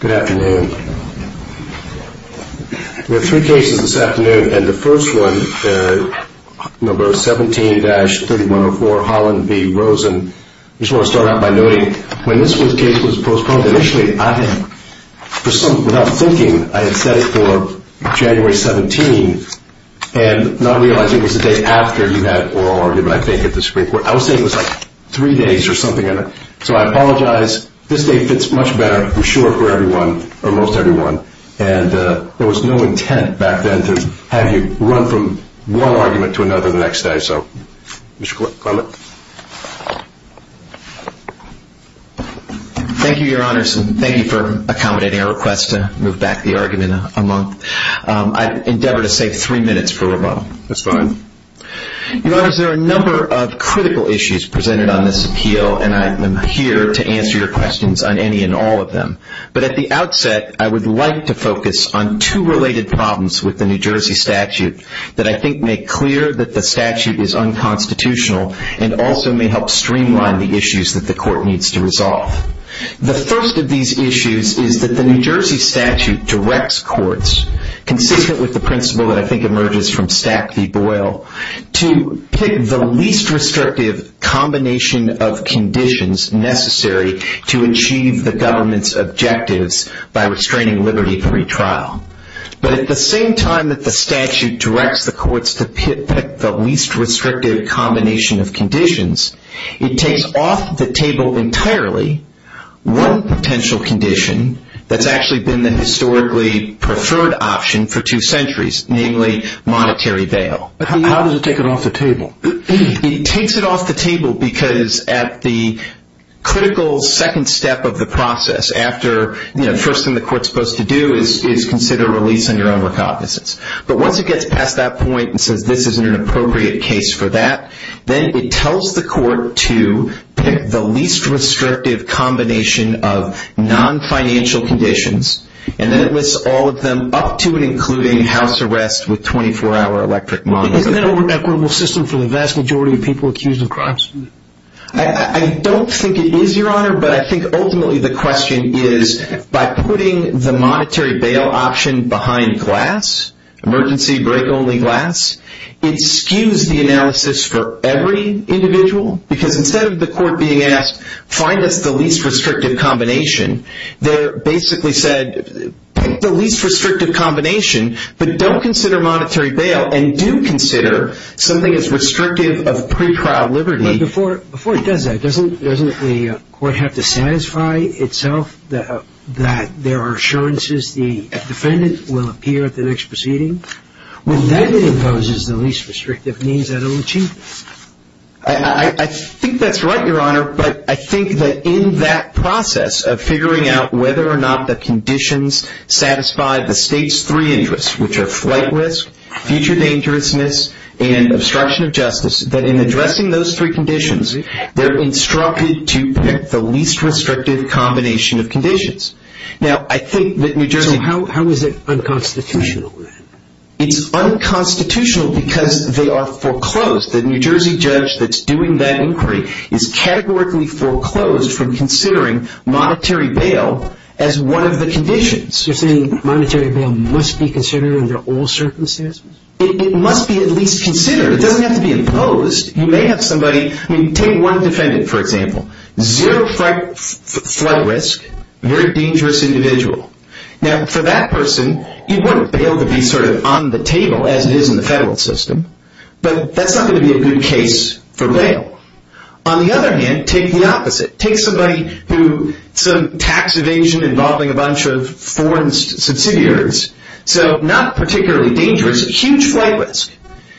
Good afternoon. We have three cases this afternoon, and the first one, number 17-3104, Holland v. Rosen. I just want to start out by noting, when this case was postponed, initially, without thinking, I had set it for January 17, and not realizing it was the day after you had oral argument, I think, at the Supreme Court. I was saying it was like three days or something, so I apologize. This day fits much better, I'm sure, for everyone, or most everyone. And there was no intent back then to have you run from one argument to another the next day. Mr. Clement. Thank you, Your Honors, and thank you for accommodating our request to move back the argument a month. I endeavor to save three minutes for rebuttal. That's fine. Your Honors, there are a number of critical issues presented on this appeal, and I am here to answer your questions on any and all of them. But at the outset, I would like to focus on two related problems with the New Jersey statute that I think make clear that the statute is unconstitutional, and also may help streamline the issues that the court needs to resolve. The first of these issues is that the New Jersey statute directs courts, consistent with the principle that I think emerges from Stack v. Boyle, to pick the least restrictive combination of conditions necessary to achieve the government's objectives by restraining liberty of retrial. But at the same time that the statute directs the courts to pick the least restrictive combination of conditions, it takes off the table entirely one potential condition that's actually been the historically preferred option for two centuries, namely monetary bail. How does it take it off the table? It takes it off the table because at the critical second step of the process, after the first thing the court is supposed to do is consider a release on your own recognizance. But once it gets past that point and says this isn't an appropriate case for that, then it tells the court to pick the least restrictive combination of non-financial conditions, and then it lists all of them up to and including house arrest with 24-hour electric money. Isn't that an over-equitable system for the vast majority of people accused of crimes? I don't think it is, Your Honor, but I think ultimately the question is, by putting the monetary bail option behind glass, emergency break-only glass, it skews the analysis for every individual because instead of the court being asked, find us the least restrictive combination, they basically said pick the least restrictive combination, but don't consider monetary bail and do consider something as restrictive of pre-trial liberty. But before it does that, doesn't the court have to satisfy itself that there are assurances the defendant will appear at the next proceeding? With that, it imposes the least restrictive means that it will achieve. I think that's right, Your Honor, but I think that in that process of figuring out whether or not the conditions satisfy the State's three interests, which are flight risk, future dangerousness, and obstruction of justice, that in addressing those three conditions, So how is it unconstitutional then? It's unconstitutional because they are foreclosed. The New Jersey judge that's doing that inquiry is categorically foreclosed from considering monetary bail as one of the conditions. You're saying monetary bail must be considered under all circumstances? It must be at least considered. It doesn't have to be imposed. You may have somebody, I mean, take one defendant, for example. Zero flight risk, very dangerous individual. Now, for that person, you want bail to be sort of on the table, as it is in the federal system. But that's not going to be a good case for bail. On the other hand, take the opposite. Take somebody who, some tax evasion involving a bunch of foreign subsidiaries. So, not particularly dangerous, huge flight risk.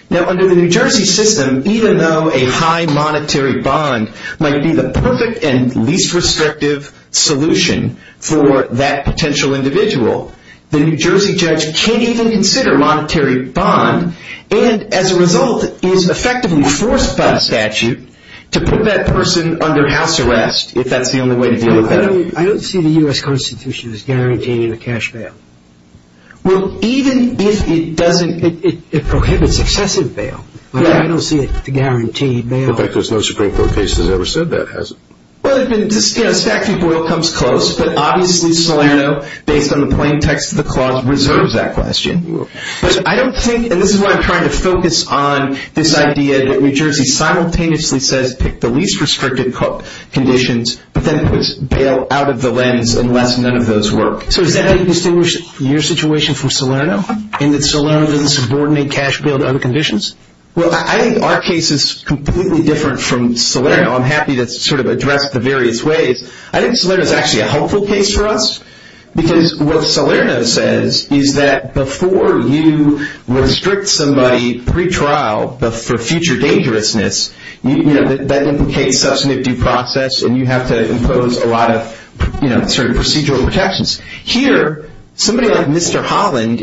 Now, under the New Jersey system, even though a high monetary bond might be the perfect and least restrictive solution for that potential individual, the New Jersey judge can't even consider monetary bond, and as a result is effectively forced by statute to put that person under house arrest if that's the only way to deal with bail. I don't see the U.S. Constitution as guaranteeing a cash bail. Well, even if it doesn't, it prohibits excessive bail. I don't see it as a guaranteed bail. In fact, there's no Supreme Court case that's ever said that, has it? Well, statute of rule comes close, but obviously Salerno, based on the plain text of the clause, reserves that question. But I don't think, and this is why I'm trying to focus on this idea that New Jersey simultaneously says pick the least restrictive conditions, but then puts bail out of the lens unless none of those work. So is that how you distinguish your situation from Salerno, in that Salerno doesn't subordinate cash bail to other conditions? Well, I think our case is completely different from Salerno. I'm happy to sort of address it the various ways. I think Salerno is actually a helpful case for us, because what Salerno says is that before you restrict somebody pretrial for future dangerousness, that implicates substantive due process, and you have to impose a lot of certain procedural protections. Here, somebody like Mr. Holland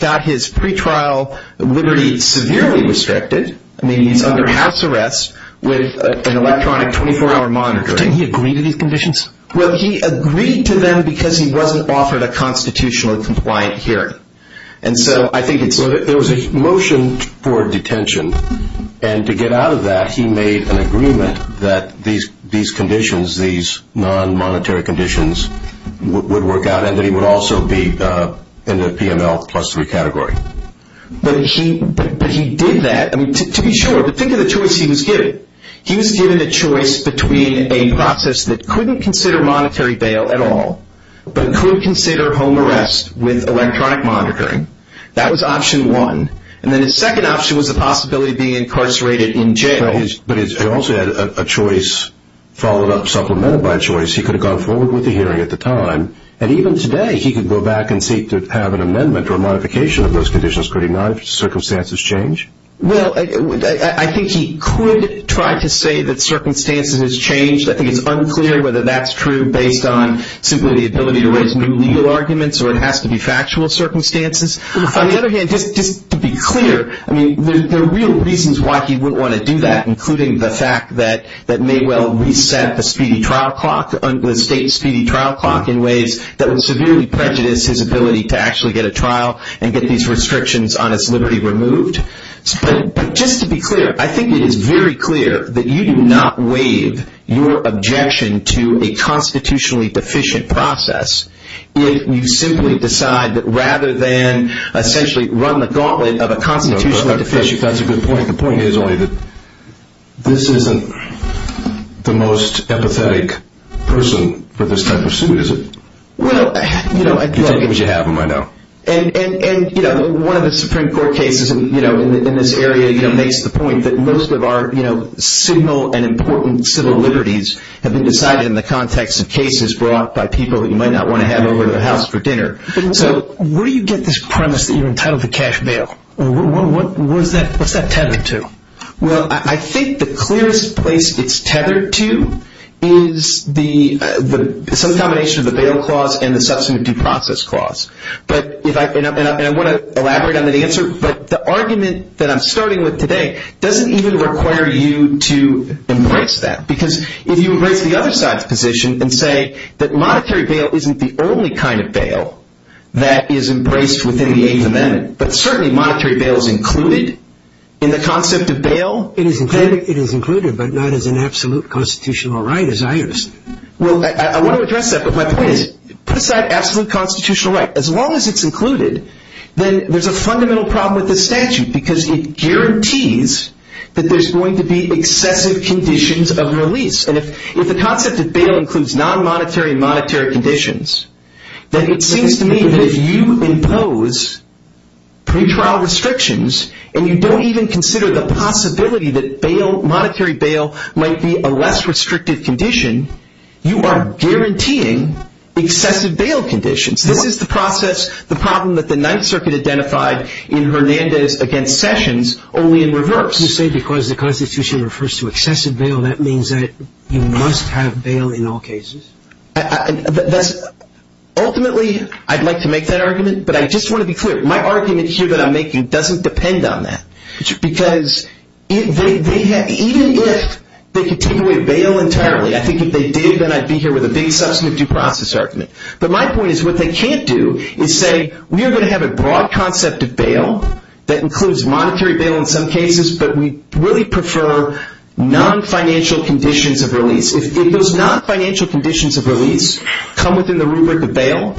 got his pretrial liberty severely restricted. I mean, he's under house arrest with an electronic 24-hour monitoring. Didn't he agree to these conditions? Well, he agreed to them because he wasn't offered a constitutionally compliant hearing. And so I think it's... There was a motion for detention, and to get out of that he made an agreement that these conditions, these non-monetary conditions would work out, and that he would also be in the PML plus three category. But he did that. I mean, to be sure, but think of the choice he was given. He was given a choice between a process that couldn't consider monetary bail at all, but could consider home arrest with electronic monitoring. That was option one. And then his second option was the possibility of being incarcerated in jail. But he also had a choice followed up, supplemented by a choice. He could have gone forward with the hearing at the time, and even today he could go back and seek to have an amendment or a modification of those conditions. Could he not if circumstances change? Well, I think he could try to say that circumstances has changed. I think it's unclear whether that's true based on simply the ability to raise new legal arguments or it has to be factual circumstances. On the other hand, just to be clear, I mean, there are real reasons why he wouldn't want to do that, including the fact that Maywell reset the speedy trial clock, the state's speedy trial clock in ways that would severely prejudice his ability to actually get a trial and get these restrictions on his liberty removed. But just to be clear, I think it is very clear that you do not waive your objection to a constitutionally deficient process if you simply decide that rather than essentially run the gauntlet of a constitutional deficiency. That's a good point. The point is only that this isn't the most empathetic person for this type of suit, is it? You take what you have in mind now. And one of the Supreme Court cases in this area makes the point that most of our signal and important civil liberties have been decided in the context of cases brought by people that you might not want to have over to the House for dinner. So where do you get this premise that you're entitled to cash bail? What's that tethered to? Well, I think the clearest place it's tethered to is some combination of the bail clause and the substantive due process clause. And I want to elaborate on that answer. But the argument that I'm starting with today doesn't even require you to embrace that. Because if you embrace the other side's position and say that monetary bail isn't the only kind of bail that is embraced within the Eighth Amendment, but certainly monetary bail is included in the concept of bail. It is included, but not as an absolute constitutional right as I understand it. Well, I want to address that, but my point is put aside absolute constitutional right. As long as it's included, then there's a fundamental problem with the statute because it guarantees that there's going to be excessive conditions of release. And if the concept of bail includes non-monetary and monetary conditions, then it seems to me that if you impose pretrial restrictions and you don't even consider the possibility that monetary bail might be a less restrictive condition, you are guaranteeing excessive bail conditions. This is the process, the problem that the Ninth Circuit identified in Hernandez against Sessions, only in reverse. You say because the Constitution refers to excessive bail, that means that you must have bail in all cases? Ultimately, I'd like to make that argument, but I just want to be clear. My argument here that I'm making doesn't depend on that. Because even if they could take away bail entirely, I think if they did, then I'd be here with a big substantive due process argument. But my point is what they can't do is say we are going to have a broad concept of bail that includes monetary bail in some cases, but we really prefer non-financial conditions of release. If those non-financial conditions of release come within the rubric of bail,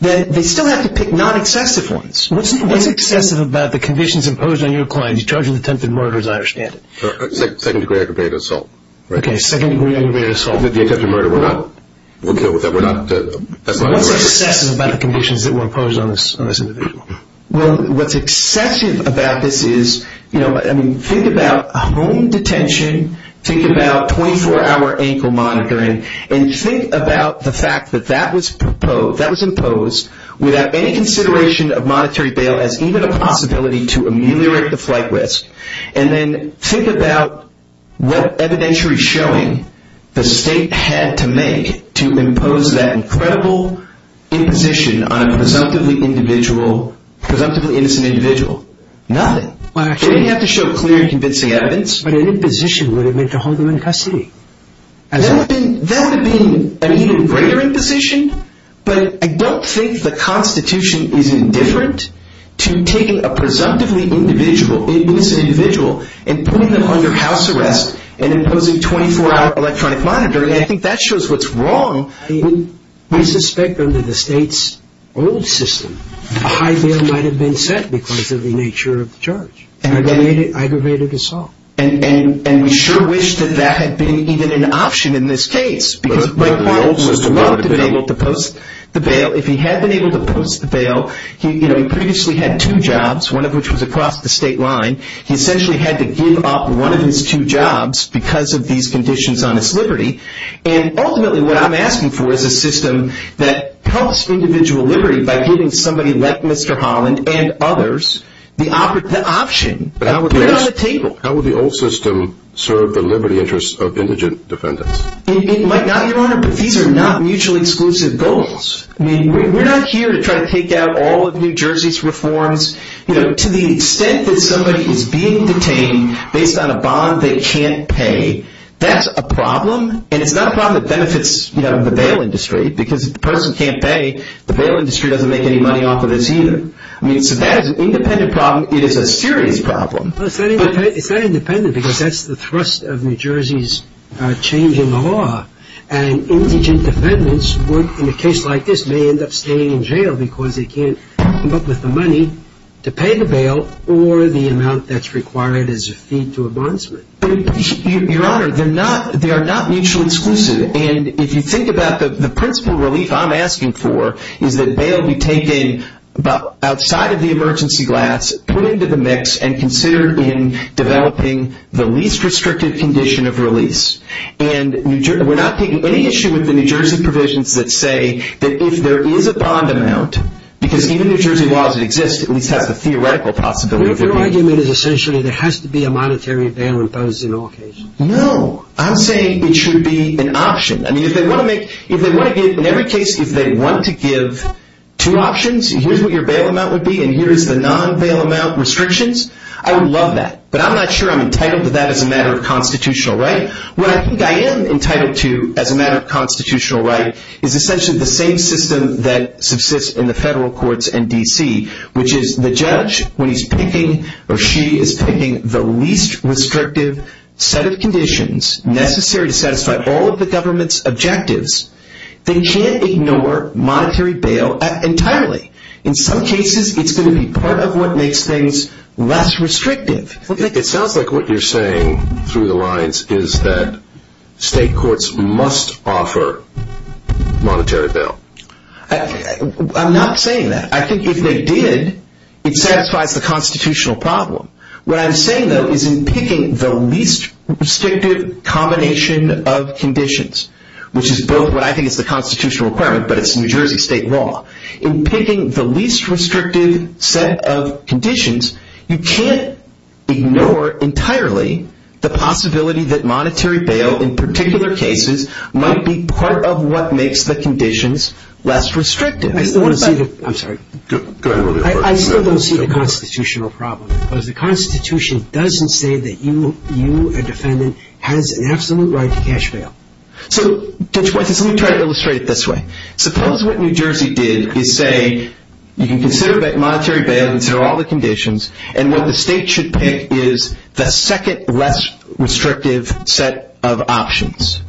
then they still have to pick non-excessive ones. What's excessive about the conditions imposed on your client? He's charging attempted murder as I understand it. Second degree aggravated assault. Okay, second degree aggravated assault. What's excessive about the conditions that were imposed on this individual? What's excessive about this is, think about home detention, think about 24-hour ankle monitoring, and think about the fact that that was imposed without any consideration of monetary bail as even a possibility to ameliorate the flight risk. And then think about what evidentiary showing the state had to make to impose that incredible imposition on a presumptively innocent individual. Nothing. They didn't have to show clear and convincing evidence. But an imposition would have meant to hold them in custody. That would have been an even greater imposition, but I don't think the Constitution is indifferent to taking a presumptively innocent individual and putting them under house arrest and imposing 24-hour electronic monitoring. I think that shows what's wrong. We suspect under the state's old system, a high bail might have been set because of the nature of the charge. Aggravated assault. And we sure wish that that had been even an option in this case. If he had been able to post the bail, he previously had two jobs, one of which was across the state line. He essentially had to give up one of his two jobs because of these conditions on his liberty. And ultimately what I'm asking for is a system that helps individual liberty by giving somebody like Mr. Holland and others the option to put on the table. How would the old system serve the liberty interests of indigent defendants? It might not, Your Honor, but these are not mutually exclusive goals. I mean, we're not here to try to take out all of New Jersey's reforms. You know, to the extent that somebody is being detained based on a bond they can't pay, that's a problem. And it's not a problem that benefits the bail industry because if the person can't pay, the bail industry doesn't make any money off of this either. I mean, so that is an independent problem. It is a serious problem. It's not independent because that's the thrust of New Jersey's change in the law. And indigent defendants in a case like this may end up staying in jail because they can't come up with the money to pay the bail or the amount that's required as a fee to a bondsman. Your Honor, they are not mutually exclusive. And if you think about the principal relief I'm asking for is that bail be taken outside of the emergency glass, put into the mix, and considered in developing the least restrictive condition of release. And we're not taking any issue with the New Jersey provisions that say that if there is a bond amount, because even New Jersey laws that exist at least have the theoretical possibility of it being. Your argument is essentially there has to be a monetary bail imposed in all cases. No. I'm saying it should be an option. I mean, if they want to make, if they want to give, in every case, if they want to give two options, here's what your bail amount would be and here's the non-bail amount restrictions, I would love that. But I'm not sure I'm entitled to that as a matter of constitutional right. What I think I am entitled to as a matter of constitutional right is essentially the same system that subsists in the federal courts in D.C., which is the judge, when he's picking, or she is picking the least restrictive set of conditions necessary to satisfy all of the government's objectives, they can't ignore monetary bail entirely. In some cases, it's going to be part of what makes things less restrictive. It sounds like what you're saying through the lines is that state courts must offer monetary bail. I'm not saying that. I think if they did, it satisfies the constitutional problem. What I'm saying, though, is in picking the least restrictive combination of conditions, which is both what I think is the constitutional requirement, but it's New Jersey state law, in picking the least restrictive set of conditions, you can't ignore entirely the possibility that monetary bail, in particular cases, might be part of what makes the conditions less restrictive. I still don't see the constitutional problem. Because the Constitution doesn't say that you, a defendant, has an absolute right to cash bail. So, Judge Weiss, let me try to illustrate it this way. Suppose what New Jersey did is say, you can consider monetary bail, consider all the conditions, and what the state should pick is the second less restrictive set of options.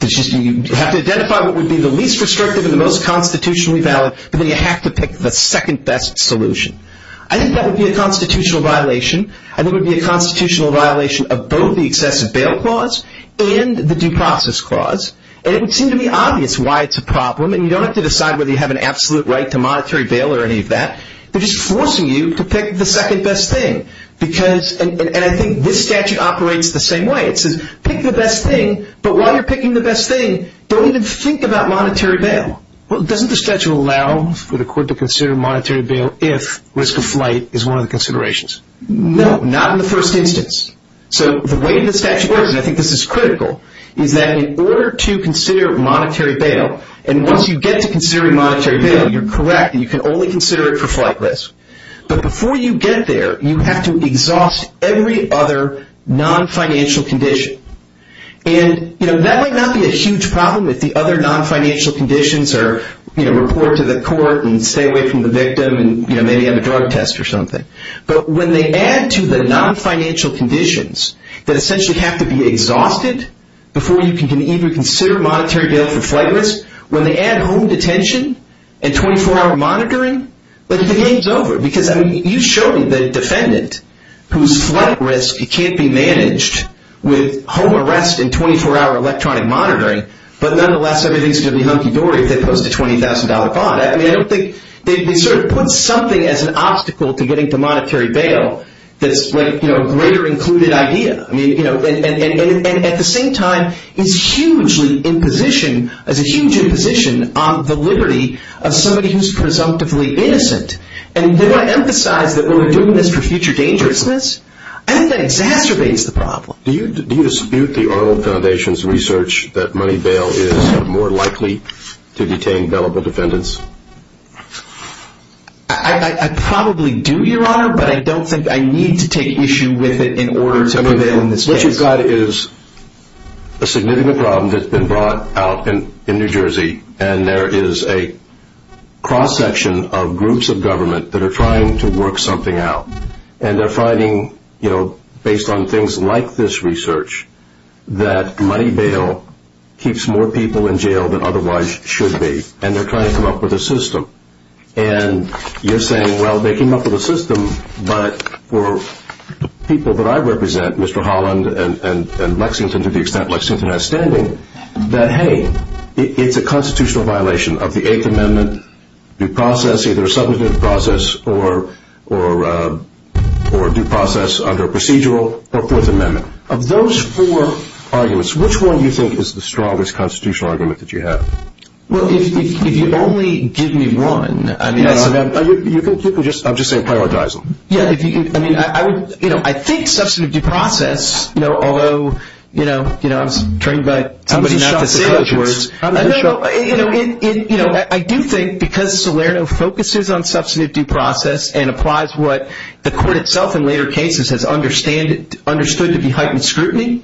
It's just you have to identify what would be the least restrictive and the most constitutionally valid, but then you have to pick the second best solution. I think that would be a constitutional violation. I think it would be a constitutional violation of both the excessive bail clause and the due process clause. And it would seem to be obvious why it's a problem. And you don't have to decide whether you have an absolute right to monetary bail or any of that. They're just forcing you to pick the second best thing. And I think this statute operates the same way. It says, pick the best thing, but while you're picking the best thing, don't even think about monetary bail. Well, doesn't the statute allow for the court to consider monetary bail if risk of flight is one of the considerations? No, not in the first instance. So the way the statute works, and I think this is critical, is that in order to consider monetary bail, and once you get to considering monetary bail, you're correct, and you can only consider it for flight risk. But before you get there, you have to exhaust every other non-financial condition. And that might not be a huge problem if the other non-financial conditions are report to the court and stay away from the victim and maybe have a drug test or something. But when they add to the non-financial conditions that essentially have to be exhausted before you can even consider monetary bail for flight risk, when they add home detention and 24-hour monitoring, the game's over. Because you showed me the defendant whose flight risk can't be managed with home arrest and 24-hour electronic monitoring, but nonetheless everything's going to be hunky-dory if they post a $20,000 bond. I mean, I don't think they sort of put something as an obstacle to getting to monetary bail that's a greater included idea. And at the same time, it's hugely in position as a huge imposition on the liberty of somebody who's presumptively innocent. And do I emphasize that we're doing this for future dangerousness? I think that exacerbates the problem. Do you dispute the Arnold Foundation's research that money bail is more likely to detain gullible defendants? I probably do, Your Honor, but I don't think I need to take issue with it in order to prevail in this case. What you've got is a significant problem that's been brought out in New Jersey, and there is a cross-section of groups of government that are trying to work something out. And they're finding, you know, based on things like this research, that money bail keeps more people in jail than otherwise should be. And they're trying to come up with a system. And you're saying, well, they came up with a system, but for people that I represent, Mr. Holland and Lexington, to the extent Lexington has standing, that, hey, it's a constitutional violation of the Eighth Amendment, due process, either a substantive due process or due process under a procedural or Fourth Amendment. Of those four arguments, which one do you think is the strongest constitutional argument that you have? Well, if you only give me one, I mean... No, no, you can just, I'm just saying, prioritize them. Yeah, I mean, I would, you know, I think substantive due process, you know, although, you know, I was trained by somebody not to say those words. No, no, you know, I do think because Salerno focuses on substantive due process and applies what the court itself in later cases has understood to be heightened scrutiny,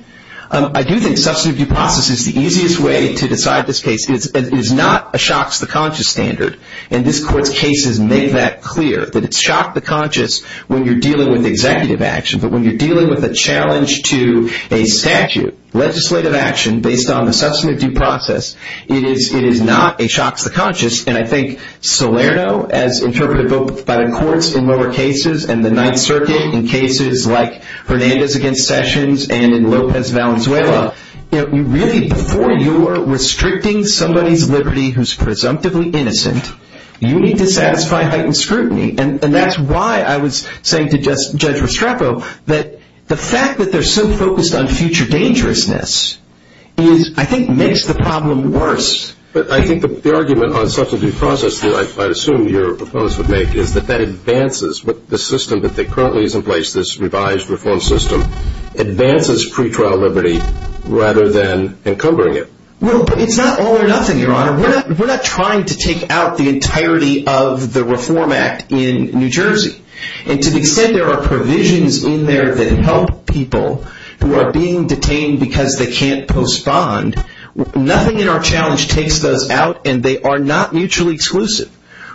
I do think substantive due process is the easiest way to decide this case. It is not a shocks-the-conscious standard, and this court's cases make that clear, that it's shock-the-conscious when you're dealing with executive action, but when you're dealing with a challenge to a statute, legislative action based on the substantive due process, it is not a shocks-the-conscious, and I think Salerno, as interpreted by the courts in lower cases and the Ninth Circuit in cases like Hernandez against Sessions and in Lopez Valenzuela, you know, you really, before you are restricting somebody's liberty who's presumptively innocent, you need to satisfy heightened scrutiny, and that's why I was saying to Judge Restrepo that the fact that they're so focused on future dangerousness is, I think, makes the problem worse. But I think the argument on substantive due process that I assume your proposal would make is that that advances the system that currently is in place, this revised reform system, advances pretrial liberty rather than encumbering it. Well, it's not all or nothing, Your Honor. We're not trying to take out the entirety of the Reform Act in New Jersey, and to the extent there are provisions in there that help people who are being detained because they can't postpone, nothing in our challenge takes those out, and they are not mutually exclusive.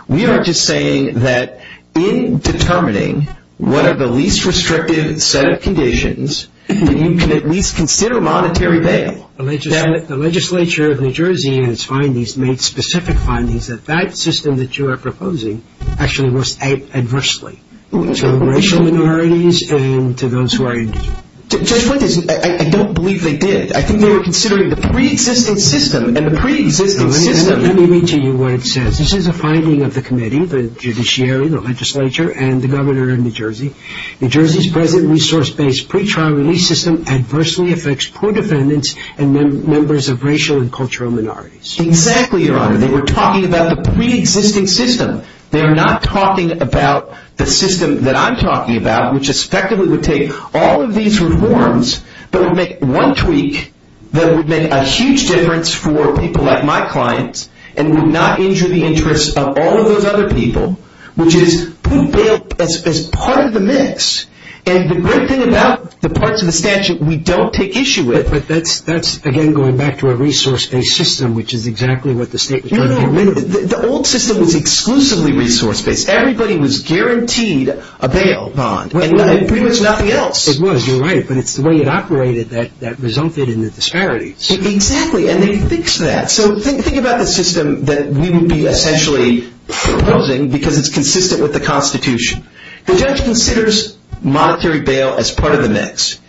We are just saying that in determining what are the least restrictive set of conditions, that you can at least consider monetary bail. The legislature of New Jersey in its findings made specific findings that that system that you are proposing actually works out adversely to racial minorities and to those who are indigenous. Judge Flint, I don't believe they did. I think they were considering the preexisting system, and the preexisting system Let me read to you what it says. This is a finding of the committee, the judiciary, the legislature, and the governor of New Jersey. New Jersey's present resource-based pretrial release system adversely affects poor defendants and members of racial and cultural minorities. Exactly, Your Honor. They were talking about the preexisting system. They are not talking about the system that I'm talking about, which effectively would take all of these reforms, but would make one tweak that would make a huge difference for people like my clients and would not injure the interests of all of those other people, which is put bail as part of the mix, and the great thing about the parts of the statute we don't take issue with. But that's, again, going back to a resource-based system, which is exactly what the state was trying to get rid of. No, no, the old system was exclusively resource-based. Everybody was guaranteed a bail bond, and pretty much nothing else. It was, you're right, but it's the way it operated that resulted in the disparities. Exactly, and they fixed that. So think about the system that we would be essentially proposing because it's consistent with the Constitution. The judge considers monetary bail as part of the mix.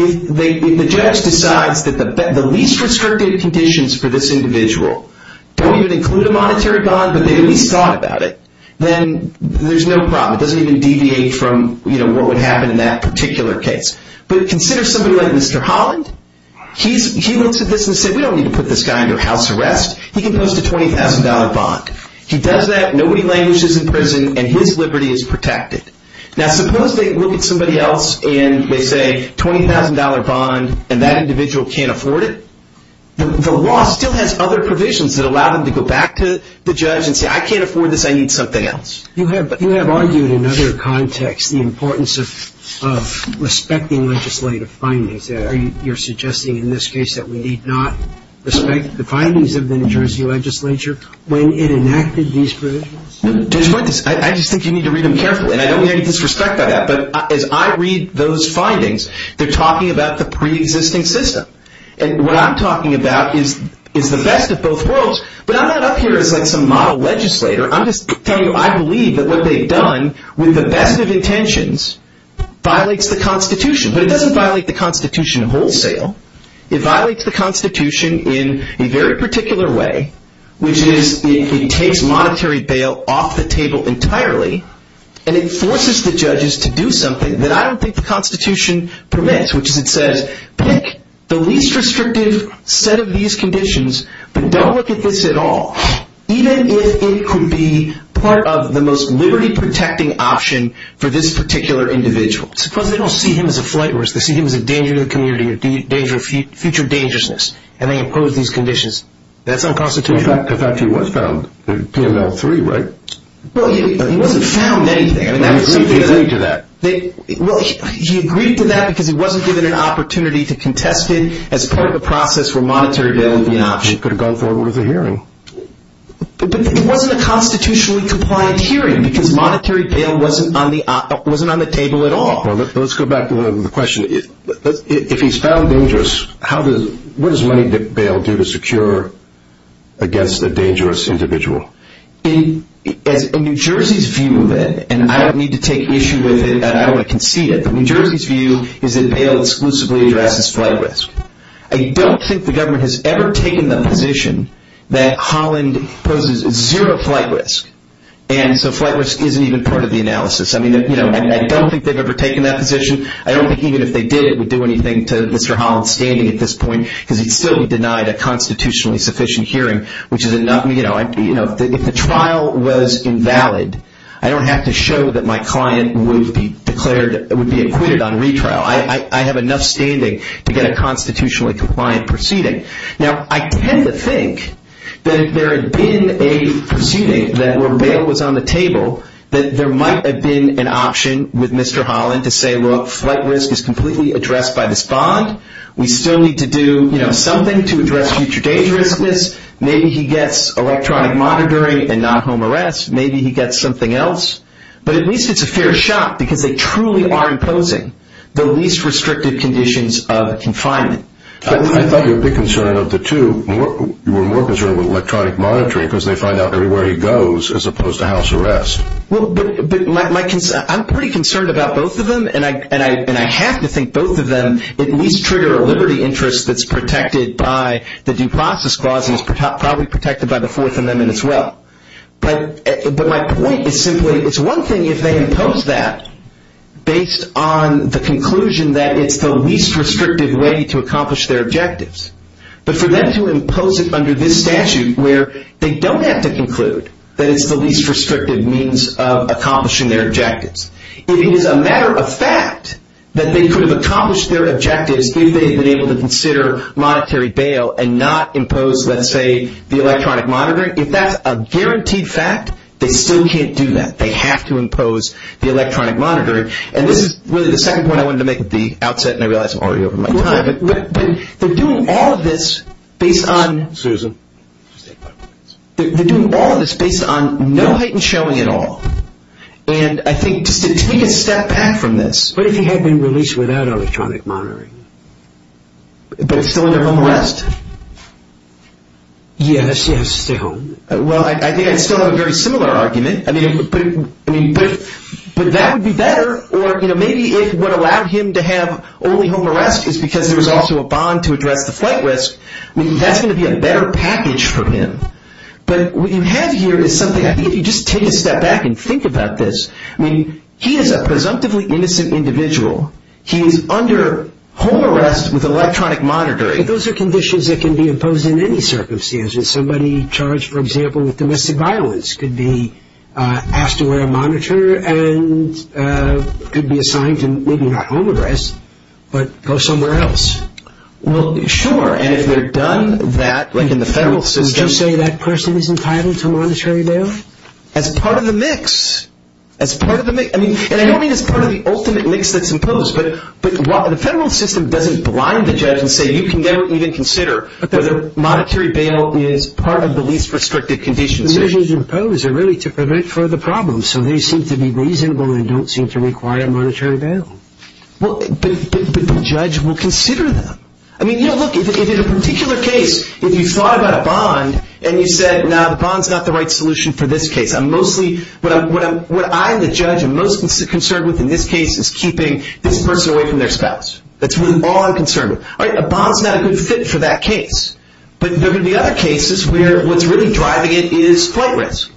If the judge decides that the least restrictive conditions for this individual don't even include a monetary bond, but they at least thought about it, then there's no problem. It doesn't even deviate from what would happen in that particular case. But consider somebody like Mr. Holland. He looks at this and says, we don't need to put this guy under house arrest. He can post a $20,000 bond. He does that, nobody languishes in prison, and his liberty is protected. Now, suppose they look at somebody else and they say, $20,000 bond, and that individual can't afford it. The law still has other provisions that allow them to go back to the judge and say, I can't afford this, I need something else. You have argued in other contexts the importance of respecting legislative findings. You're suggesting in this case that we need not respect the findings of the New Jersey legislature when it enacted these provisions? I just think you need to read them carefully, and I don't mean any disrespect by that. But as I read those findings, they're talking about the preexisting system. And what I'm talking about is the best of both worlds. But I'm not up here as some model legislator. I'm just telling you I believe that what they've done with the best of intentions violates the Constitution. But it doesn't violate the Constitution wholesale. It violates the Constitution in a very particular way, which is it takes monetary bail off the table entirely. And it forces the judges to do something that I don't think the Constitution permits, which is it says, pick the least restrictive set of these conditions, but don't look at this at all. Even if it could be part of the most liberty-protecting option for this particular individual. Suppose they don't see him as a flight risk. They see him as a danger to the community, a future dangerousness, and they impose these conditions. That's unconstitutional. In fact, he was found, PML-3, right? Well, he wasn't found anything. He agreed to that. Well, he agreed to that because he wasn't given an opportunity to contest it as part of a process where monetary bail would be an option. Because he could have gone forward with a hearing. But it wasn't a constitutionally compliant hearing because monetary bail wasn't on the table at all. Well, let's go back to the question. If he's found dangerous, what does money bail do to secure against a dangerous individual? In New Jersey's view of it, and I don't need to take issue with it, and I don't want to concede it, but New Jersey's view is that bail exclusively addresses flight risk. I don't think the government has ever taken the position that Holland poses zero flight risk. And so flight risk isn't even part of the analysis. I don't think they've ever taken that position. I don't think even if they did, it would do anything to Mr. Holland's standing at this point because he'd still be denied a constitutionally sufficient hearing. If the trial was invalid, I don't have to show that my client would be acquitted on retrial. I have enough standing to get a constitutionally compliant proceeding. Now, I tend to think that if there had been a proceeding where bail was on the table, that there might have been an option with Mr. Holland to say, look, flight risk is completely addressed by this bond. We still need to do something to address future dangerousness. Maybe he gets electronic monitoring and not home arrest. Maybe he gets something else. But at least it's a fair shot because they truly are imposing the least restrictive conditions of confinement. I thought your big concern of the two, you were more concerned with electronic monitoring because they find out everywhere he goes as opposed to house arrest. Well, but I'm pretty concerned about both of them, and I have to think both of them at least trigger a liberty interest that's protected by the Due Process Clause and is probably protected by the Fourth Amendment as well. But my point is simply it's one thing if they impose that based on the conclusion that it's the least restrictive way to accomplish their objectives. But for them to impose it under this statute where they don't have to conclude that it's the least restrictive means of accomplishing their objectives, it is a matter of fact that they could have accomplished their objectives if they had been able to consider monetary bail and not impose, let's say, the electronic monitoring. If that's a guaranteed fact, they still can't do that. They have to impose the electronic monitoring. And this is really the second point I wanted to make at the outset, and I realize I'm already over my time. But they're doing all of this based on no heightened showing at all. And I think just to take a step back from this. What if he had been released without electronic monitoring? But it's still under home arrest. Yes, yes, still. Well, I think I'd still have a very similar argument. But that would be better. Or maybe if what allowed him to have only home arrest is because there was also a bond to address the flight risk, that's going to be a better package for him. But what you have here is something. I think if you just take a step back and think about this. He is a presumptively innocent individual. He is under home arrest with electronic monitoring. But those are conditions that can be imposed in any circumstances. Somebody charged, for example, with domestic violence could be asked to wear a monitor and could be assigned to maybe not home arrest, but go somewhere else. Well, sure, and if they're done that, like in the federal system. Would you say that person is entitled to monetary bail? As part of the mix. And I don't mean as part of the ultimate mix that's imposed. But the federal system doesn't blind the judge and say you can never even consider whether monetary bail is part of the least restricted conditions. The measures imposed are really to prevent further problems. So they seem to be reasonable and don't seem to require monetary bail. But the judge will consider them. I mean, look, in a particular case, if you thought about a bond and you said, no, the bond's not the right solution for this case. What I'm the judge most concerned with in this case is keeping this person away from their spouse. That's all I'm concerned with. All right, a bond's not a good fit for that case. But there are going to be other cases where what's really driving it is flight risk.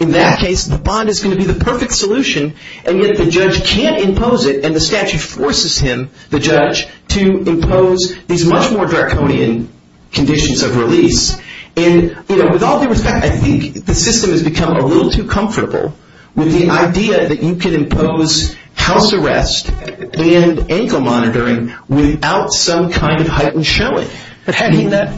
In that case, the bond is going to be the perfect solution, and yet the judge can't impose it, and the statute forces him, the judge, to impose these much more draconian conditions of release. And with all due respect, I think the system has become a little too comfortable with the idea that you can impose house arrest and ankle monitoring without some kind of heightened shelling. But had he not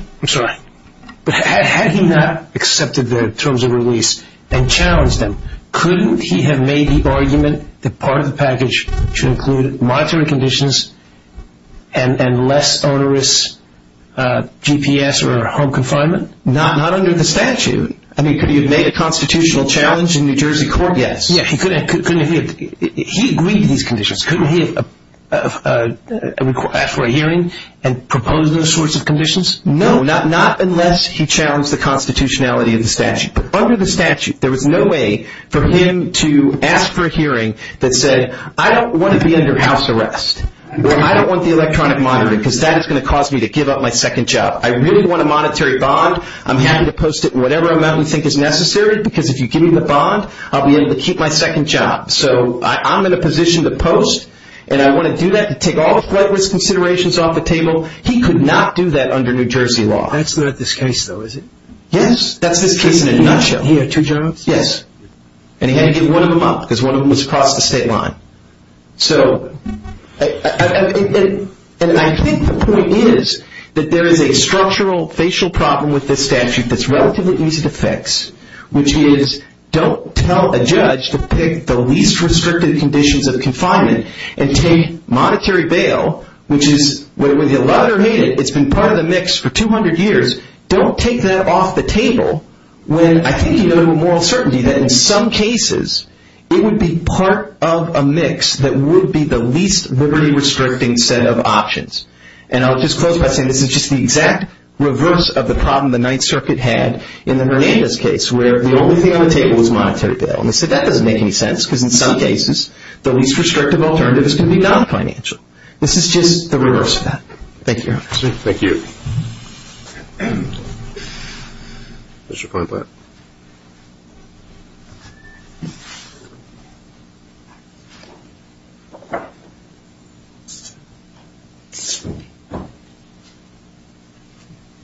accepted the terms of release and challenged them, couldn't he have made the argument that part of the package should include monetary conditions and less onerous GPS or home confinement? Not under the statute. I mean, could he have made a constitutional challenge in New Jersey court? Yes. He agreed to these conditions. Couldn't he have asked for a hearing and proposed those sorts of conditions? No, not unless he challenged the constitutionality of the statute. But under the statute, there was no way for him to ask for a hearing that said, I don't want to be under house arrest, or I don't want the electronic monitoring, because that is going to cause me to give up my second job. I really want a monetary bond. I'm happy to post it in whatever amount we think is necessary, because if you give me the bond, I'll be able to keep my second job. So I'm in a position to post, and I want to do that to take all the flight risk considerations off the table. He could not do that under New Jersey law. That's not this case, though, is it? Yes, that's this case in a nutshell. He had two jobs? Yes. And he had to get one of them up because one of them was across the state line. And I think the point is that there is a structural facial problem with this statute that's relatively easy to fix, which is don't tell a judge to pick the least restrictive conditions of confinement and take monetary bail, which is whether you love it or hate it, it's been part of the mix for 200 years. Don't take that off the table when I think you go to a moral certainty that in some cases it would be part of a mix that would be the least liberty-restricting set of options. And I'll just close by saying this is just the exact reverse of the problem the Ninth Circuit had in the Hernandez case, where the only thing on the table was monetary bail. And they said that doesn't make any sense, because in some cases the least restrictive alternative is going to be non-financial. This is just the reverse of that. Thank you, Your Honor. Thank you. Thank you. Mr. Feinblatt.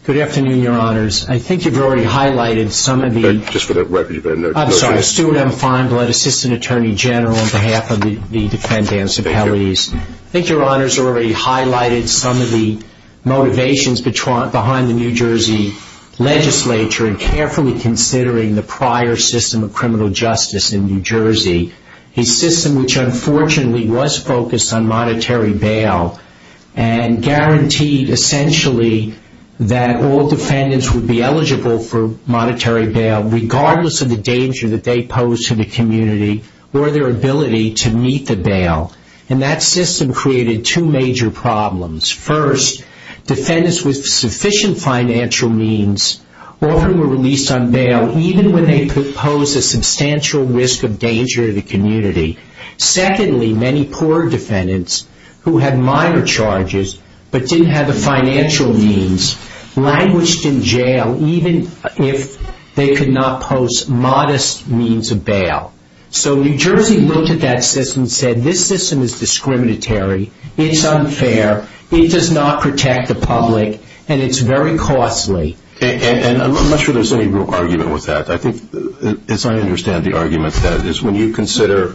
Good afternoon, Your Honors. I think you've already highlighted some of the- Just for the record, you better note- I'm sorry, Stuart M. Feinblatt, Assistant Attorney General on behalf of the defendant's appellees. Thank you. I think Your Honors already highlighted some of the motivations behind the New Jersey legislature in carefully considering the prior system of criminal justice in New Jersey, a system which unfortunately was focused on monetary bail and guaranteed essentially that all defendants would be eligible for monetary bail, regardless of the danger that they posed to the community or their ability to meet the bail. And that system created two major problems. First, defendants with sufficient financial means often were released on bail, even when they posed a substantial risk of danger to the community. Secondly, many poor defendants who had minor charges but didn't have the financial means languished in jail, even if they could not pose modest means of bail. So New Jersey looked at that system and said, this system is discriminatory, it's unfair, it does not protect the public, and it's very costly. And I'm not sure there's any real argument with that. I think, as I understand the argument, that is when you consider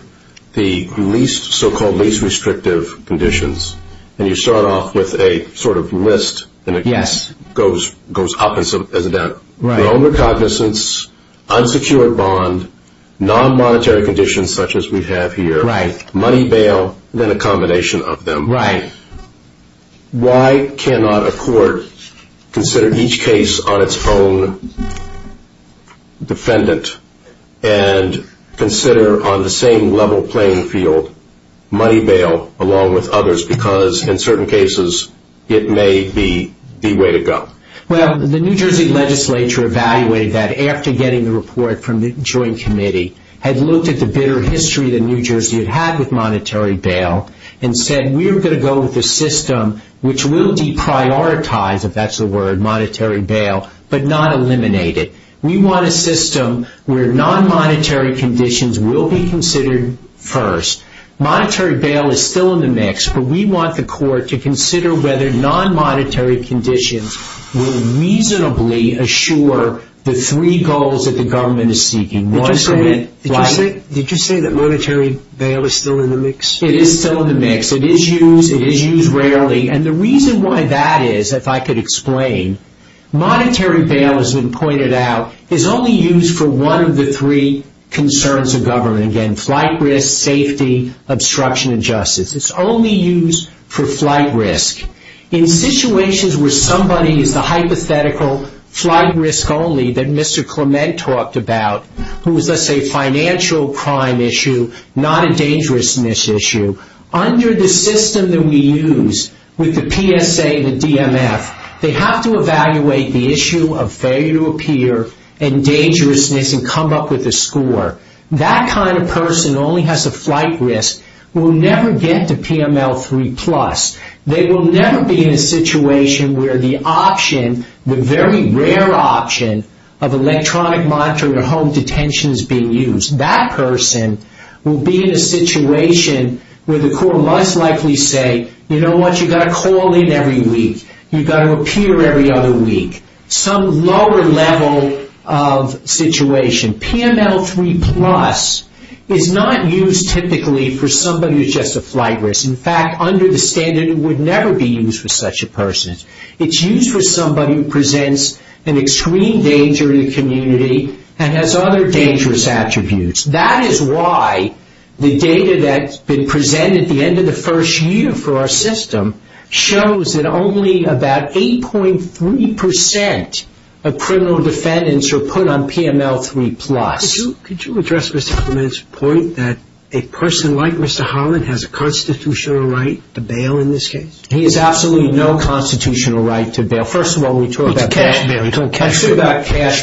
the least, so-called least restrictive conditions, and you start off with a sort of list- Yes. goes up as it down. Right. The owner cognizance, unsecured bond, non-monetary conditions such as we have here, Right. money bail, and then a combination of them. Right. Why cannot a court consider each case on its own defendant and consider on the same level playing field money bail along with others? Because, in certain cases, it may be the way to go. Well, the New Jersey legislature evaluated that after getting the report from the joint committee, had looked at the bitter history that New Jersey had had with monetary bail, and said, we're going to go with a system which will deprioritize, if that's the word, monetary bail, but not eliminate it. We want a system where non-monetary conditions will be considered first. Monetary bail is still in the mix, but we want the court to consider whether non-monetary conditions will reasonably assure the three goals that the government is seeking. Did you say that monetary bail is still in the mix? It is still in the mix. It is used. It is used rarely. And the reason why that is, if I could explain, monetary bail, as has been pointed out, is only used for one of the three concerns of government. Again, flight risk, safety, obstruction of justice. It's only used for flight risk. In situations where somebody is the hypothetical flight risk only that Mr. Clement talked about, who is, let's say, a financial crime issue, not a dangerousness issue, under the system that we use with the PSA and the DMF, they have to evaluate the issue of failure to appear and dangerousness and come up with a score. That kind of person who only has a flight risk will never get to PML 3+. They will never be in a situation where the option, the very rare option, of electronic monetary home detention is being used. That person will be in a situation where the court must likely say, you know what, you've got to call in every week. You've got to appear every other week. Some lower level of situation. PML 3++ is not used typically for somebody who is just a flight risk. In fact, under the standard, it would never be used for such a person. It's used for somebody who presents an extreme danger to the community and has other dangerous attributes. That is why the data that's been presented at the end of the first year for our system shows that only about 8.3% of criminal defendants are put on PML 3+. Could you address Mr. Clement's point that a person like Mr. Holland has a constitutional right to bail in this case? He has absolutely no constitutional right to bail. First of all, we talked about cash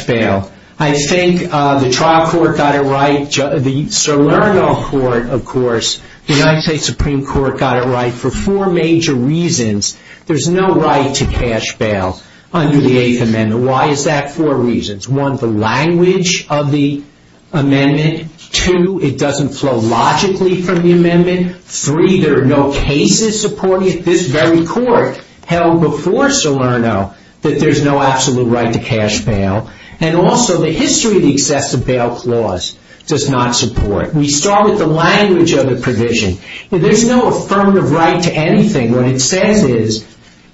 bail. I think the trial court got it right. The Salerno court, of course, the United States Supreme Court got it right for four major reasons. There's no right to cash bail under the Eighth Amendment. Why is that? Four reasons. One, the language of the amendment. Two, it doesn't flow logically from the amendment. Three, there are no cases supporting it. This very court held before Salerno that there's no absolute right to cash bail. Also, the history of the excessive bail clause does not support it. We start with the language of the provision. There's no affirmative right to anything. What it says is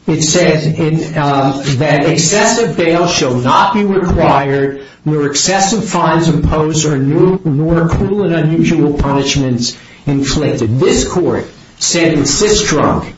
that excessive bail shall not be required where excessive fines imposed or more cruel and unusual punishments inflicted. This court said in Sistrunk,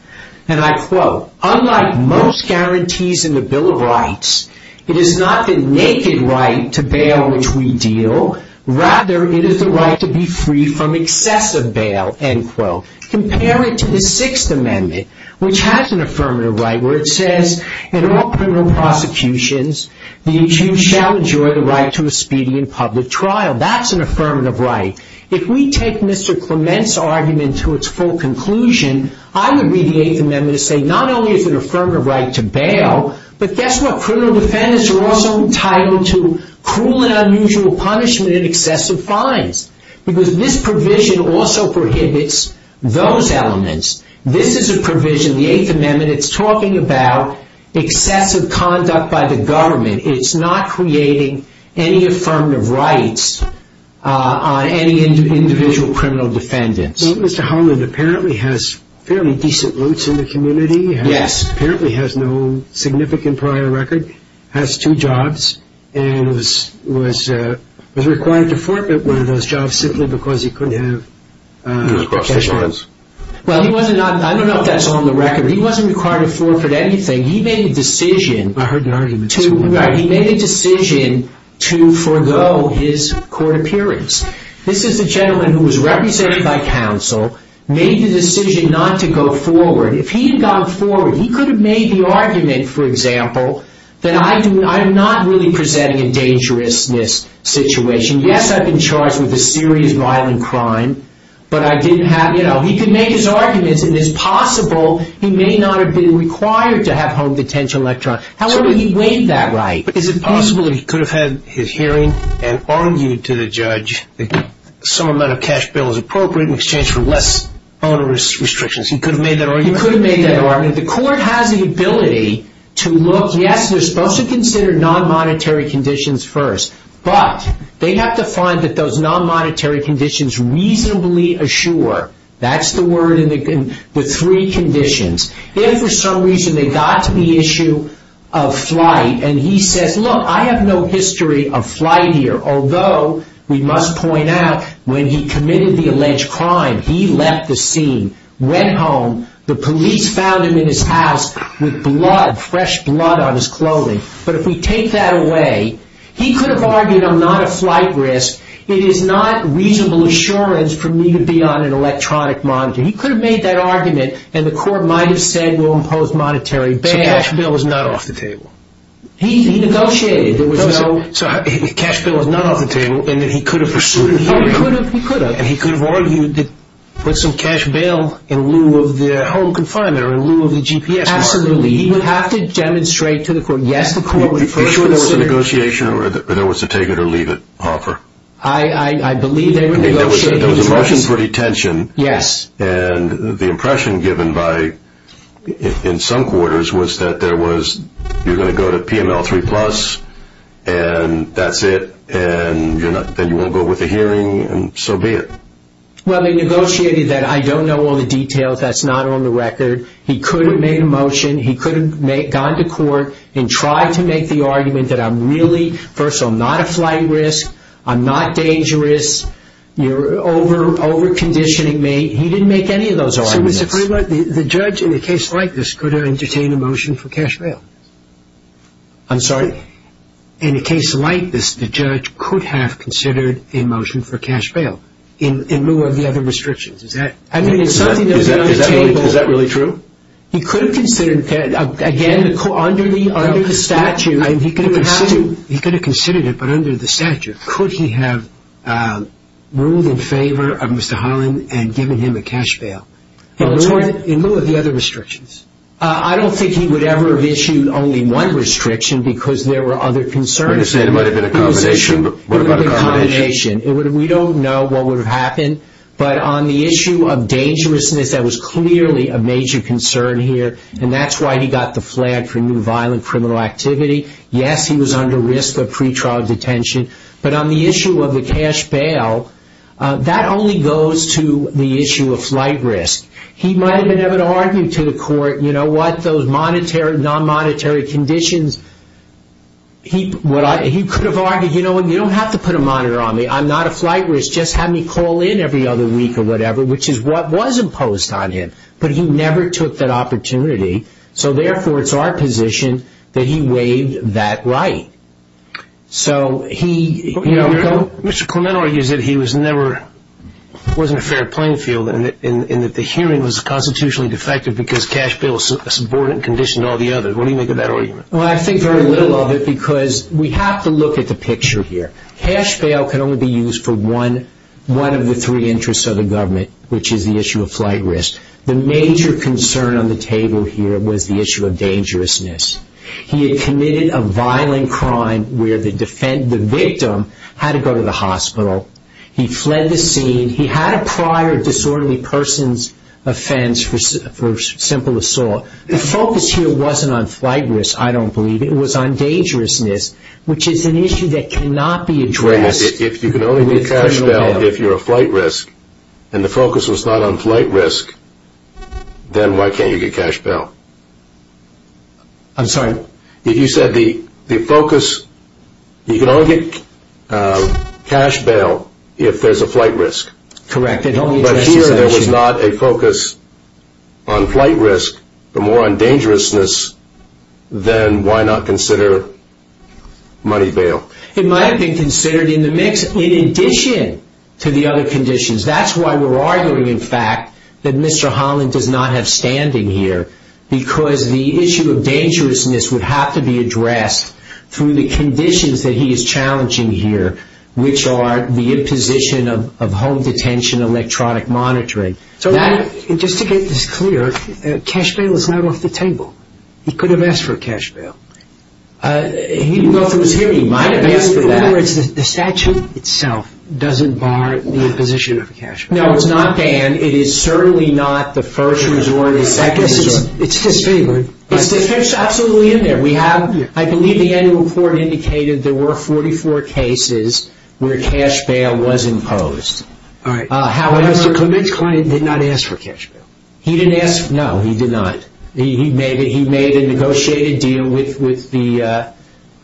and I quote, Unlike most guarantees in the Bill of Rights, it is not the naked right to bail which we deal. Rather, it is the right to be free from excessive bail, end quote. Compare it to the Sixth Amendment, which has an affirmative right, where it says in all criminal prosecutions, the accused shall enjoy the right to a speedy and public trial. That's an affirmative right. If we take Mr. Clement's argument to its full conclusion, I would read the Eighth Amendment and say not only is it an affirmative right to bail, but guess what? Criminal defendants are also entitled to cruel and unusual punishment and excessive fines because this provision also prohibits those elements. This is a provision in the Eighth Amendment. It's talking about excessive conduct by the government. It's not creating any affirmative rights on any individual criminal defendants. So Mr. Holland apparently has fairly decent roots in the community. Yes. Apparently has no significant prior record, has two jobs, and was required to forfeit one of those jobs simply because he couldn't have... He was cross-examined. I don't know if that's on the record. He wasn't required to forfeit anything. He made a decision. I heard an argument. He made a decision to forego his court appearance. This is a gentleman who was represented by counsel, made the decision not to go forward. If he had gone forward, he could have made the argument, for example, that I'm not really presenting a dangerousness situation. Yes, I've been charged with a serious violent crime, but I didn't have... He could make his arguments, and it's possible he may not have been required to have home detention. However, he weighed that right. Is it possible that he could have had his hearing and argued to the judge that some amount of cash bail is appropriate in exchange for less onerous restrictions? He could have made that argument? He could have made that argument. The court has the ability to look. Yes, they're supposed to consider non-monetary conditions first, but they have to find that those non-monetary conditions reasonably assure. That's the word with three conditions. If for some reason they got to the issue of flight, and he says, look, I have no history of flight here, although we must point out when he committed the alleged crime, he left the scene, went home, the police found him in his house with blood, fresh blood on his clothing. But if we take that away, he could have argued I'm not a flight risk. It is not reasonable assurance for me to be on an electronic monitor. He could have made that argument, and the court might have said we'll impose monetary bail. So cash bail was not off the table. He negotiated. Cash bail was not off the table, and he could have pursued it. He could have. And he could have argued to put some cash bail in lieu of the home confinement or in lieu of the GPS card. Absolutely. He would have to demonstrate to the court, yes, the court would first consider. Are you sure it was a negotiation or there was a take it or leave it offer? I believe they were negotiating. There was a motion for detention. Yes. And the impression given by, in some quarters, was that there was, you're going to go to PML 3 plus, and that's it, and then you won't go with the hearing, and so be it. Well, they negotiated that. I don't know all the details. That's not on the record. He could have made a motion. He could have gone to court and tried to make the argument that I'm really, first of all, not a flight risk. I'm not dangerous. You're over-conditioning me. He didn't make any of those arguments. So, Mr. Kramer, the judge in a case like this could have entertained a motion for cash bail. I'm sorry? In a case like this, the judge could have considered a motion for cash bail in lieu of the other restrictions. Is that really true? He could have considered, again, under the statute. He could have considered it, but under the statute. Could he have ruled in favor of Mr. Holland and given him a cash bail in lieu of the other restrictions? I don't think he would ever have issued only one restriction because there were other concerns. You're saying it might have been a combination. It was issued with a combination. We don't know what would have happened. But on the issue of dangerousness, that was clearly a major concern here, and that's why he got the flag for new violent criminal activity. Yes, he was under risk of pretrial detention. But on the issue of the cash bail, that only goes to the issue of flight risk. He might have been able to argue to the court, you know what, those non-monetary conditions. He could have argued, you know what, you don't have to put a monitor on me. I'm not a flight risk. Just have me call in every other week or whatever, which is what was imposed on him. But he never took that opportunity. So, therefore, it's our position that he waived that right. Mr. Clement argues that he was never, wasn't a fair playing field and that the hearing was constitutionally defective because cash bail was a subordinate condition to all the others. What do you make of that argument? Well, I think very little of it because we have to look at the picture here. Cash bail can only be used for one of the three interests of the government, which is the issue of flight risk. The major concern on the table here was the issue of dangerousness. He had committed a violent crime where the victim had to go to the hospital. He fled the scene. He had a prior disorderly person's offense for simple assault. The focus here wasn't on flight risk, I don't believe. It was on dangerousness, which is an issue that cannot be addressed with criminal bail. But if you're a flight risk and the focus was not on flight risk, then why can't you get cash bail? I'm sorry? You said the focus, you can only get cash bail if there's a flight risk. Correct. But here there was not a focus on flight risk, but more on dangerousness, then why not consider money bail? It might have been considered in the mix in addition to the other conditions. That's why we're arguing, in fact, that Mr. Holland does not have standing here because the issue of dangerousness would have to be addressed through the conditions that he is challenging here, which are the imposition of home detention, electronic monitoring. Just to get this clear, cash bail is not off the table. He could have asked for cash bail. He didn't go through his hearing. He might have asked for that. The statute itself doesn't bar the imposition of cash bail. No, it's not banned. It is certainly not the first resort or the second resort. It's disfavored. It's absolutely in there. I believe the annual report indicated there were 44 cases where cash bail was imposed. However, Mr. Kovic did not ask for cash bail. No, he did not. He made a negotiated deal with the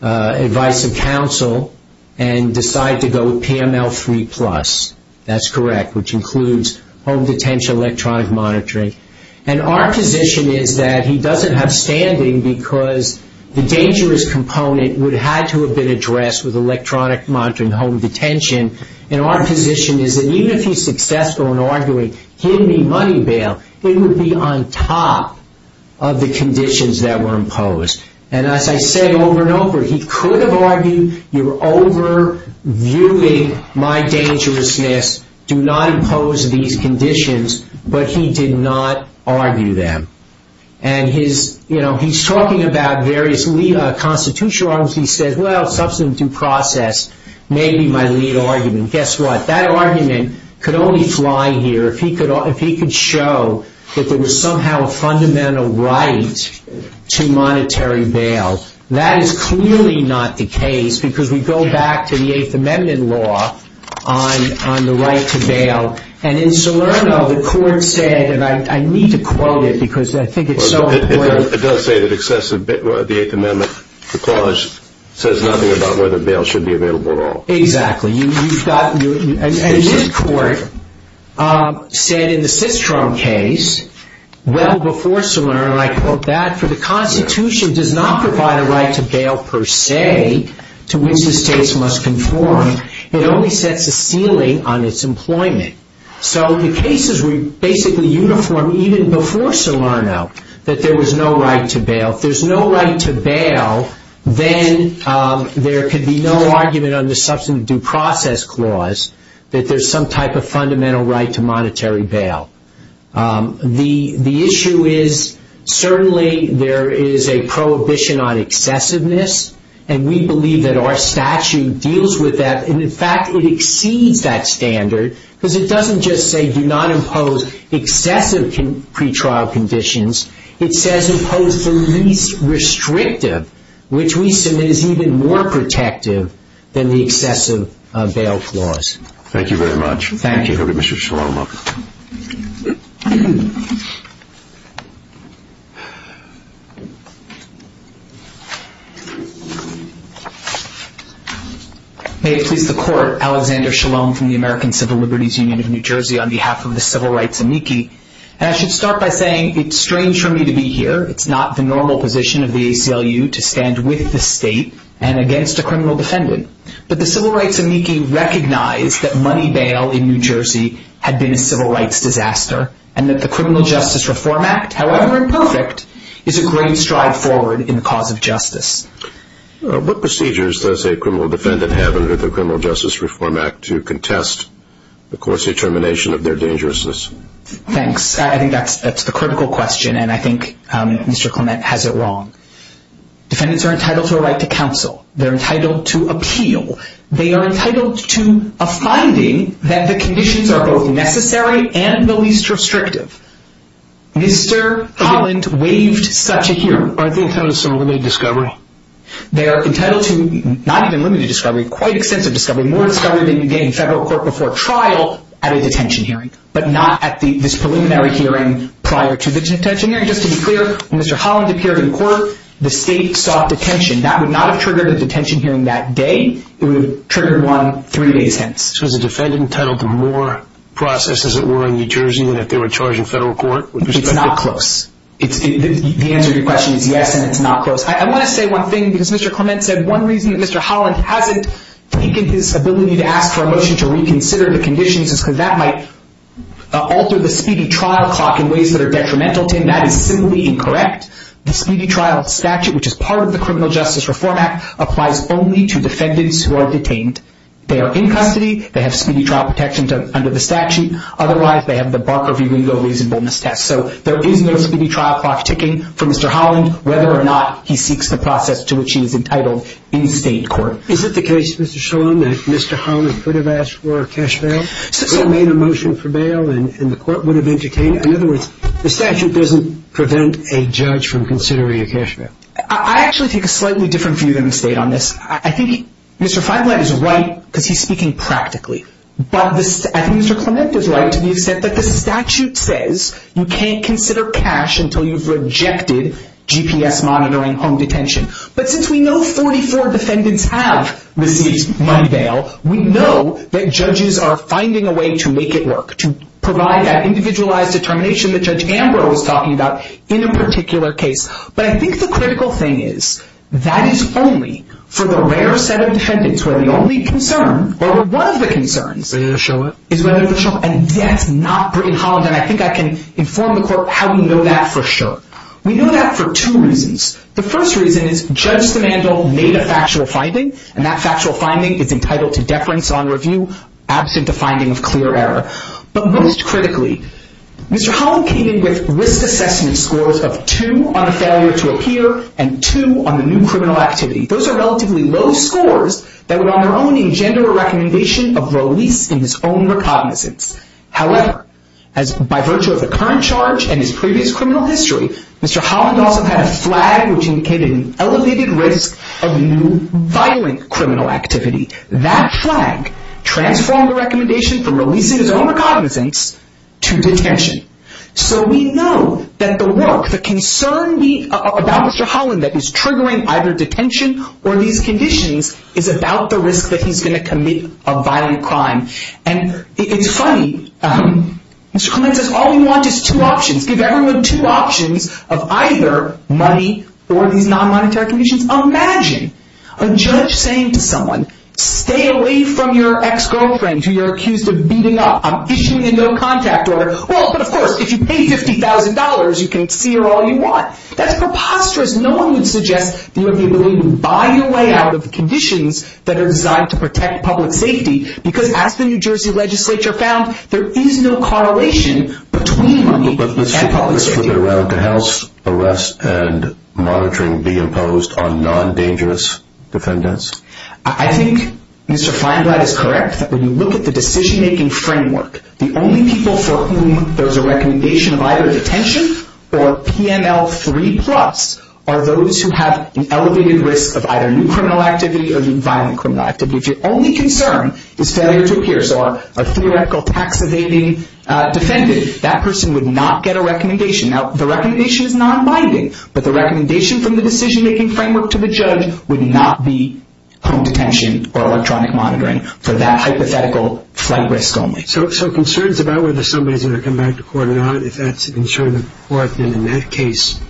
advice of counsel and decided to go with PML 3+. That's correct, which includes home detention, electronic monitoring. Our position is that he doesn't have standing because the dangerous component would have had to have been addressed with electronic monitoring, home detention. Our position is that even if he's successful in arguing, give me money bail, it would be on top of the conditions that were imposed. As I say over and over, he could have argued, you're over-viewing my dangerousness. Do not impose these conditions, but he did not argue them. He's talking about various constitutional arguments. He says, well, substantive process may be my lead argument. Guess what? That argument could only fly here if he could show that there was somehow a fundamental right to monetary bail. That is clearly not the case because we go back to the Eighth Amendment law on the right to bail. In Salerno, the court said, and I need to quote it because I think it's so important. It does say that the Eighth Amendment clause says nothing about whether bail should be available at all. Exactly. And this court said in the Sistrom case, well, before Salerno, and I quote that, for the Constitution does not provide a right to bail per se to which the states must conform. It only sets a ceiling on its employment. So the cases were basically uniform even before Salerno that there was no right to bail. If there's no right to bail, then there could be no argument on the substantive due process clause that there's some type of fundamental right to monetary bail. The issue is certainly there is a prohibition on excessiveness, and we believe that our statute deals with that. In fact, it exceeds that standard because it doesn't just say do not impose excessive pretrial conditions. It says impose the least restrictive, which we submit is even more protective than the excessive bail clause. Thank you very much. Thank you. Mr. Shalom. May it please the Court, Alexander Shalom from the American Civil Liberties Union of New Jersey on behalf of the Civil Rights Amici. I should start by saying it's strange for me to be here. It's not the normal position of the ACLU to stand with the state and against a criminal defendant. But the Civil Rights Amici recognize that money bail in New Jersey had been a civil rights disaster and that the Criminal Justice Reform Act, however imperfect, is a great stride forward in the cause of justice. What procedures does a criminal defendant have under the Criminal Justice Reform Act to contest the court's determination of their dangerousness? Thanks. I think that's a critical question, and I think Mr. Clement has it wrong. Defendants are entitled to a right to counsel. They're entitled to appeal. They are entitled to a finding that the conditions are both necessary and the least restrictive. Mr. Holland waived such a hearing. Aren't they entitled to some limited discovery? They are entitled to not even limited discovery, quite extensive discovery, more discovery than you get in federal court before trial at a detention hearing, but not at this preliminary hearing prior to the detention hearing. Just to be clear, when Mr. Holland appeared in court, the state sought detention. That would not have triggered a detention hearing that day. It would have triggered one three days hence. So is the defendant entitled to more processes, as it were, in New Jersey than if they were charged in federal court? It's not close. The answer to your question is yes, and it's not close. I want to say one thing because Mr. Clement said one reason that Mr. Holland hasn't taken his ability to ask for a motion to reconsider the conditions is because that might alter the speedy trial clock in ways that are detrimental to him. That is simply incorrect. The speedy trial statute, which is part of the Criminal Justice Reform Act, applies only to defendants who are detained. They are in custody. They have speedy trial protection under the statute. Otherwise, they have the Barker v. Ringo reasonableness test. So there is no speedy trial clock ticking for Mr. Holland, whether or not he seeks the process to which he is entitled in state court. Is it the case, Mr. Shulman, that Mr. Holland could have asked for a cash bail, could have made a motion for bail, and the court would have detained him? In other words, the statute doesn't prevent a judge from considering a cash bail. I actually take a slightly different view than the state on this. I think Mr. Feinblatt is right because he's speaking practically. I think Mr. Clement is right to the extent that the statute says you can't consider cash until you've rejected GPS monitoring home detention. But since we know 44 defendants have received money bail, we know that judges are finding a way to make it work, to provide that individualized determination that Judge Ambrose was talking about in a particular case. But I think the critical thing is that is only for the rare set of defendants where the only concern, or one of the concerns, is whether the... And that's not Britain Holland, and I think I can inform the court how we know that for sure. We know that for two reasons. The first reason is Judge Stamandel made a factual finding, and that factual finding is entitled to deference on review absent a finding of clear error. But most critically, Mr. Holland came in with risk assessment scores of two on the failure to appear and two on the new criminal activity. Those are relatively low scores that would on their own engender a recommendation of release in his own recognizance. However, by virtue of the current charge and his previous criminal history, Mr. Holland also had a flag which indicated an elevated risk of new violent criminal activity. That flag transformed the recommendation from release in his own recognizance to detention. So we know that the work, the concern about Mr. Holland that is triggering either detention or these conditions is about the risk that he's going to commit a violent crime. And it's funny. Mr. Clement says all we want is two options. Give everyone two options of either money or these non-monetary conditions. Imagine a judge saying to someone, stay away from your ex-girlfriend who you're accused of beating up. I'm issuing a no-contact order. Well, but of course, if you pay $50,000, you can see her all you want. That's preposterous. No one would suggest that you have the ability to buy your way out of conditions that are designed to protect public safety because as the New Jersey legislature found, there is no correlation between money and public safety. But Mr. Clement, should a round-the-house arrest and monitoring be imposed on non-dangerous defendants? I think Mr. Feinblatt is correct that when you look at the decision-making framework, the only people for whom there's a recommendation of either detention or PML 3 plus are those who have an elevated risk of either new criminal activity or violent criminal activity. If your only concern is failure to appear, so a theoretical tax evading defendant, that person would not get a recommendation. Now, the recommendation is non-binding, but the recommendation from the decision-making framework to the judge would not be home detention or electronic monitoring for that hypothetical flight risk only. So concerns about whether somebody's going to come back to court or not, if that's insured in court, then in that case,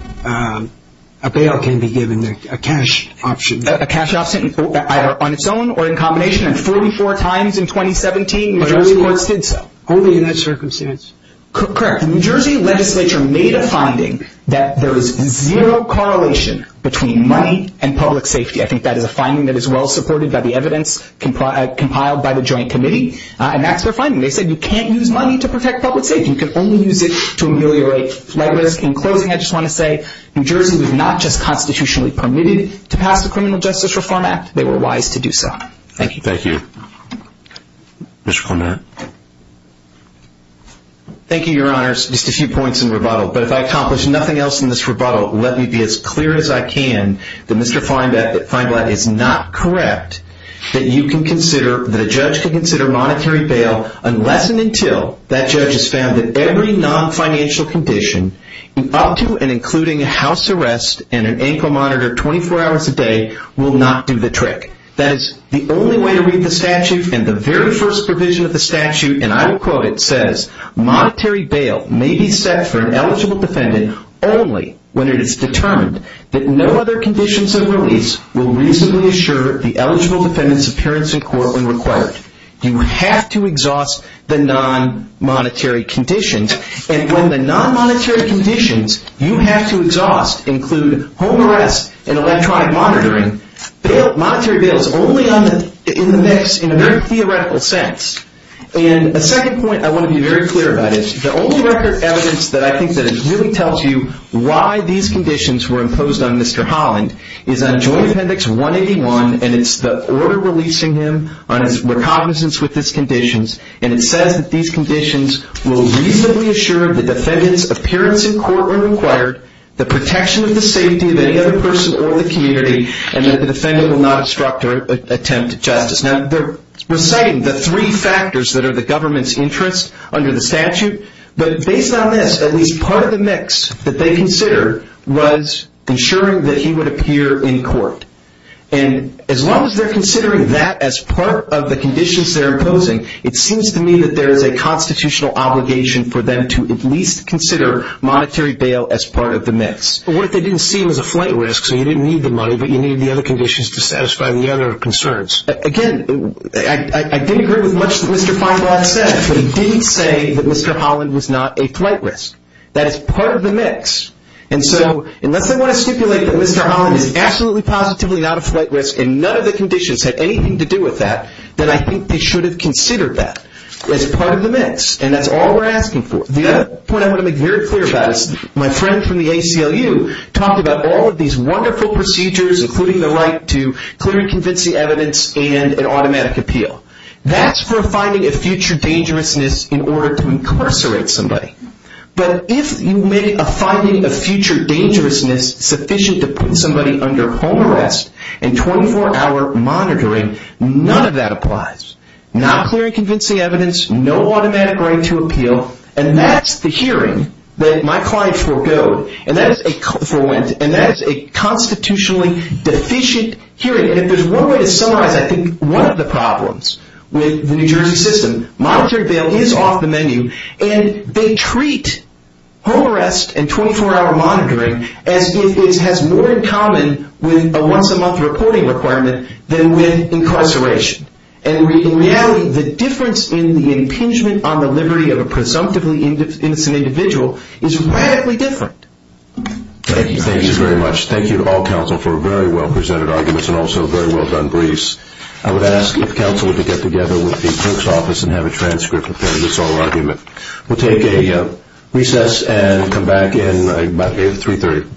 a bail can be given, a cash option. A cash option either on its own or in combination, and 44 times in 2017 New Jersey courts did so. Only in that circumstance. Correct. The New Jersey legislature made a finding that there is zero correlation between money and public safety. I think that is a finding that is well-supported by the evidence compiled by the joint committee, and that's their finding. They said you can't use money to protect public safety. You can only use it to ameliorate flight risk. In closing, I just want to say, New Jersey was not just constitutionally permitted to pass the Criminal Justice Reform Act. They were wise to do so. Thank you. Thank you. Mr. Clement. Thank you, Your Honors. Just a few points in rebuttal, but if I accomplish nothing else in this rebuttal, let me be as clear as I can that Mr. Feinblatt is not correct that you can consider, that a judge can consider monetary bail unless and until that judge has found that every non-financial condition, up to and including a house arrest and an ankle monitor 24 hours a day, will not do the trick. That is the only way to read the statute, and the very first provision of the statute, and I will quote it, says, monetary bail may be set for an eligible defendant only when it is determined that no other conditions of release will reasonably assure the eligible defendant's appearance in court when required. You have to exhaust the non-monetary conditions, and when the non-monetary conditions you have to exhaust include home arrest and electronic monitoring, monetary bail is only in the mix in a very theoretical sense. And a second point I want to be very clear about is the only record of evidence that I think really tells you why these conditions were imposed on Mr. Holland is on Joint Appendix 181, and it's the order releasing him on his recognizance with his conditions, and it says that these conditions will reasonably assure the defendant's appearance in court when required, the protection of the safety of any other person or the community, and that the defendant will not obstruct or attempt justice. Now, they're reciting the three factors that are the government's interest under the statute, but based on this, at least part of the mix that they considered was ensuring that he would appear in court. And as long as they're considering that as part of the conditions they're imposing, it seems to me that there is a constitutional obligation for them to at least consider monetary bail as part of the mix. What if they didn't see him as a flight risk, so you didn't need the money, but you needed the other conditions to satisfy the other concerns? Again, I didn't agree with much that Mr. Feinbach said, but he didn't say that Mr. Holland was not a flight risk. That is part of the mix. And so, unless they want to stipulate that Mr. Holland is absolutely positively not a flight risk and none of the conditions had anything to do with that, then I think they should have considered that as part of the mix. And that's all we're asking for. The other point I want to make very clear about is my friend from the ACLU talked about all of these wonderful procedures, including the right to clear and convince the evidence and an automatic appeal. That's for finding a future dangerousness in order to incarcerate somebody. But if you make a finding of future dangerousness sufficient to put somebody under home arrest and 24-hour monitoring, none of that applies. Not clear and convincing evidence, no automatic right to appeal, and that's the hearing that my client foregoed. And that is a constitutionally deficient hearing. And if there's one way to summarize, I think, one of the problems with the New Jersey system, monetary bail is off the menu, and they treat home arrest and 24-hour monitoring as if it has more in common with a once-a-month reporting requirement than with incarceration. And in reality, the difference in the impingement on the liberty of a presumptively innocent individual is radically different. Thank you. Thank you very much. Thank you to all counsel for very well-presented arguments and also very well-done briefs. I would ask if counsel would get together with the junk's office and have a transcript of this whole argument. We'll take a recess and come back in about 3-3.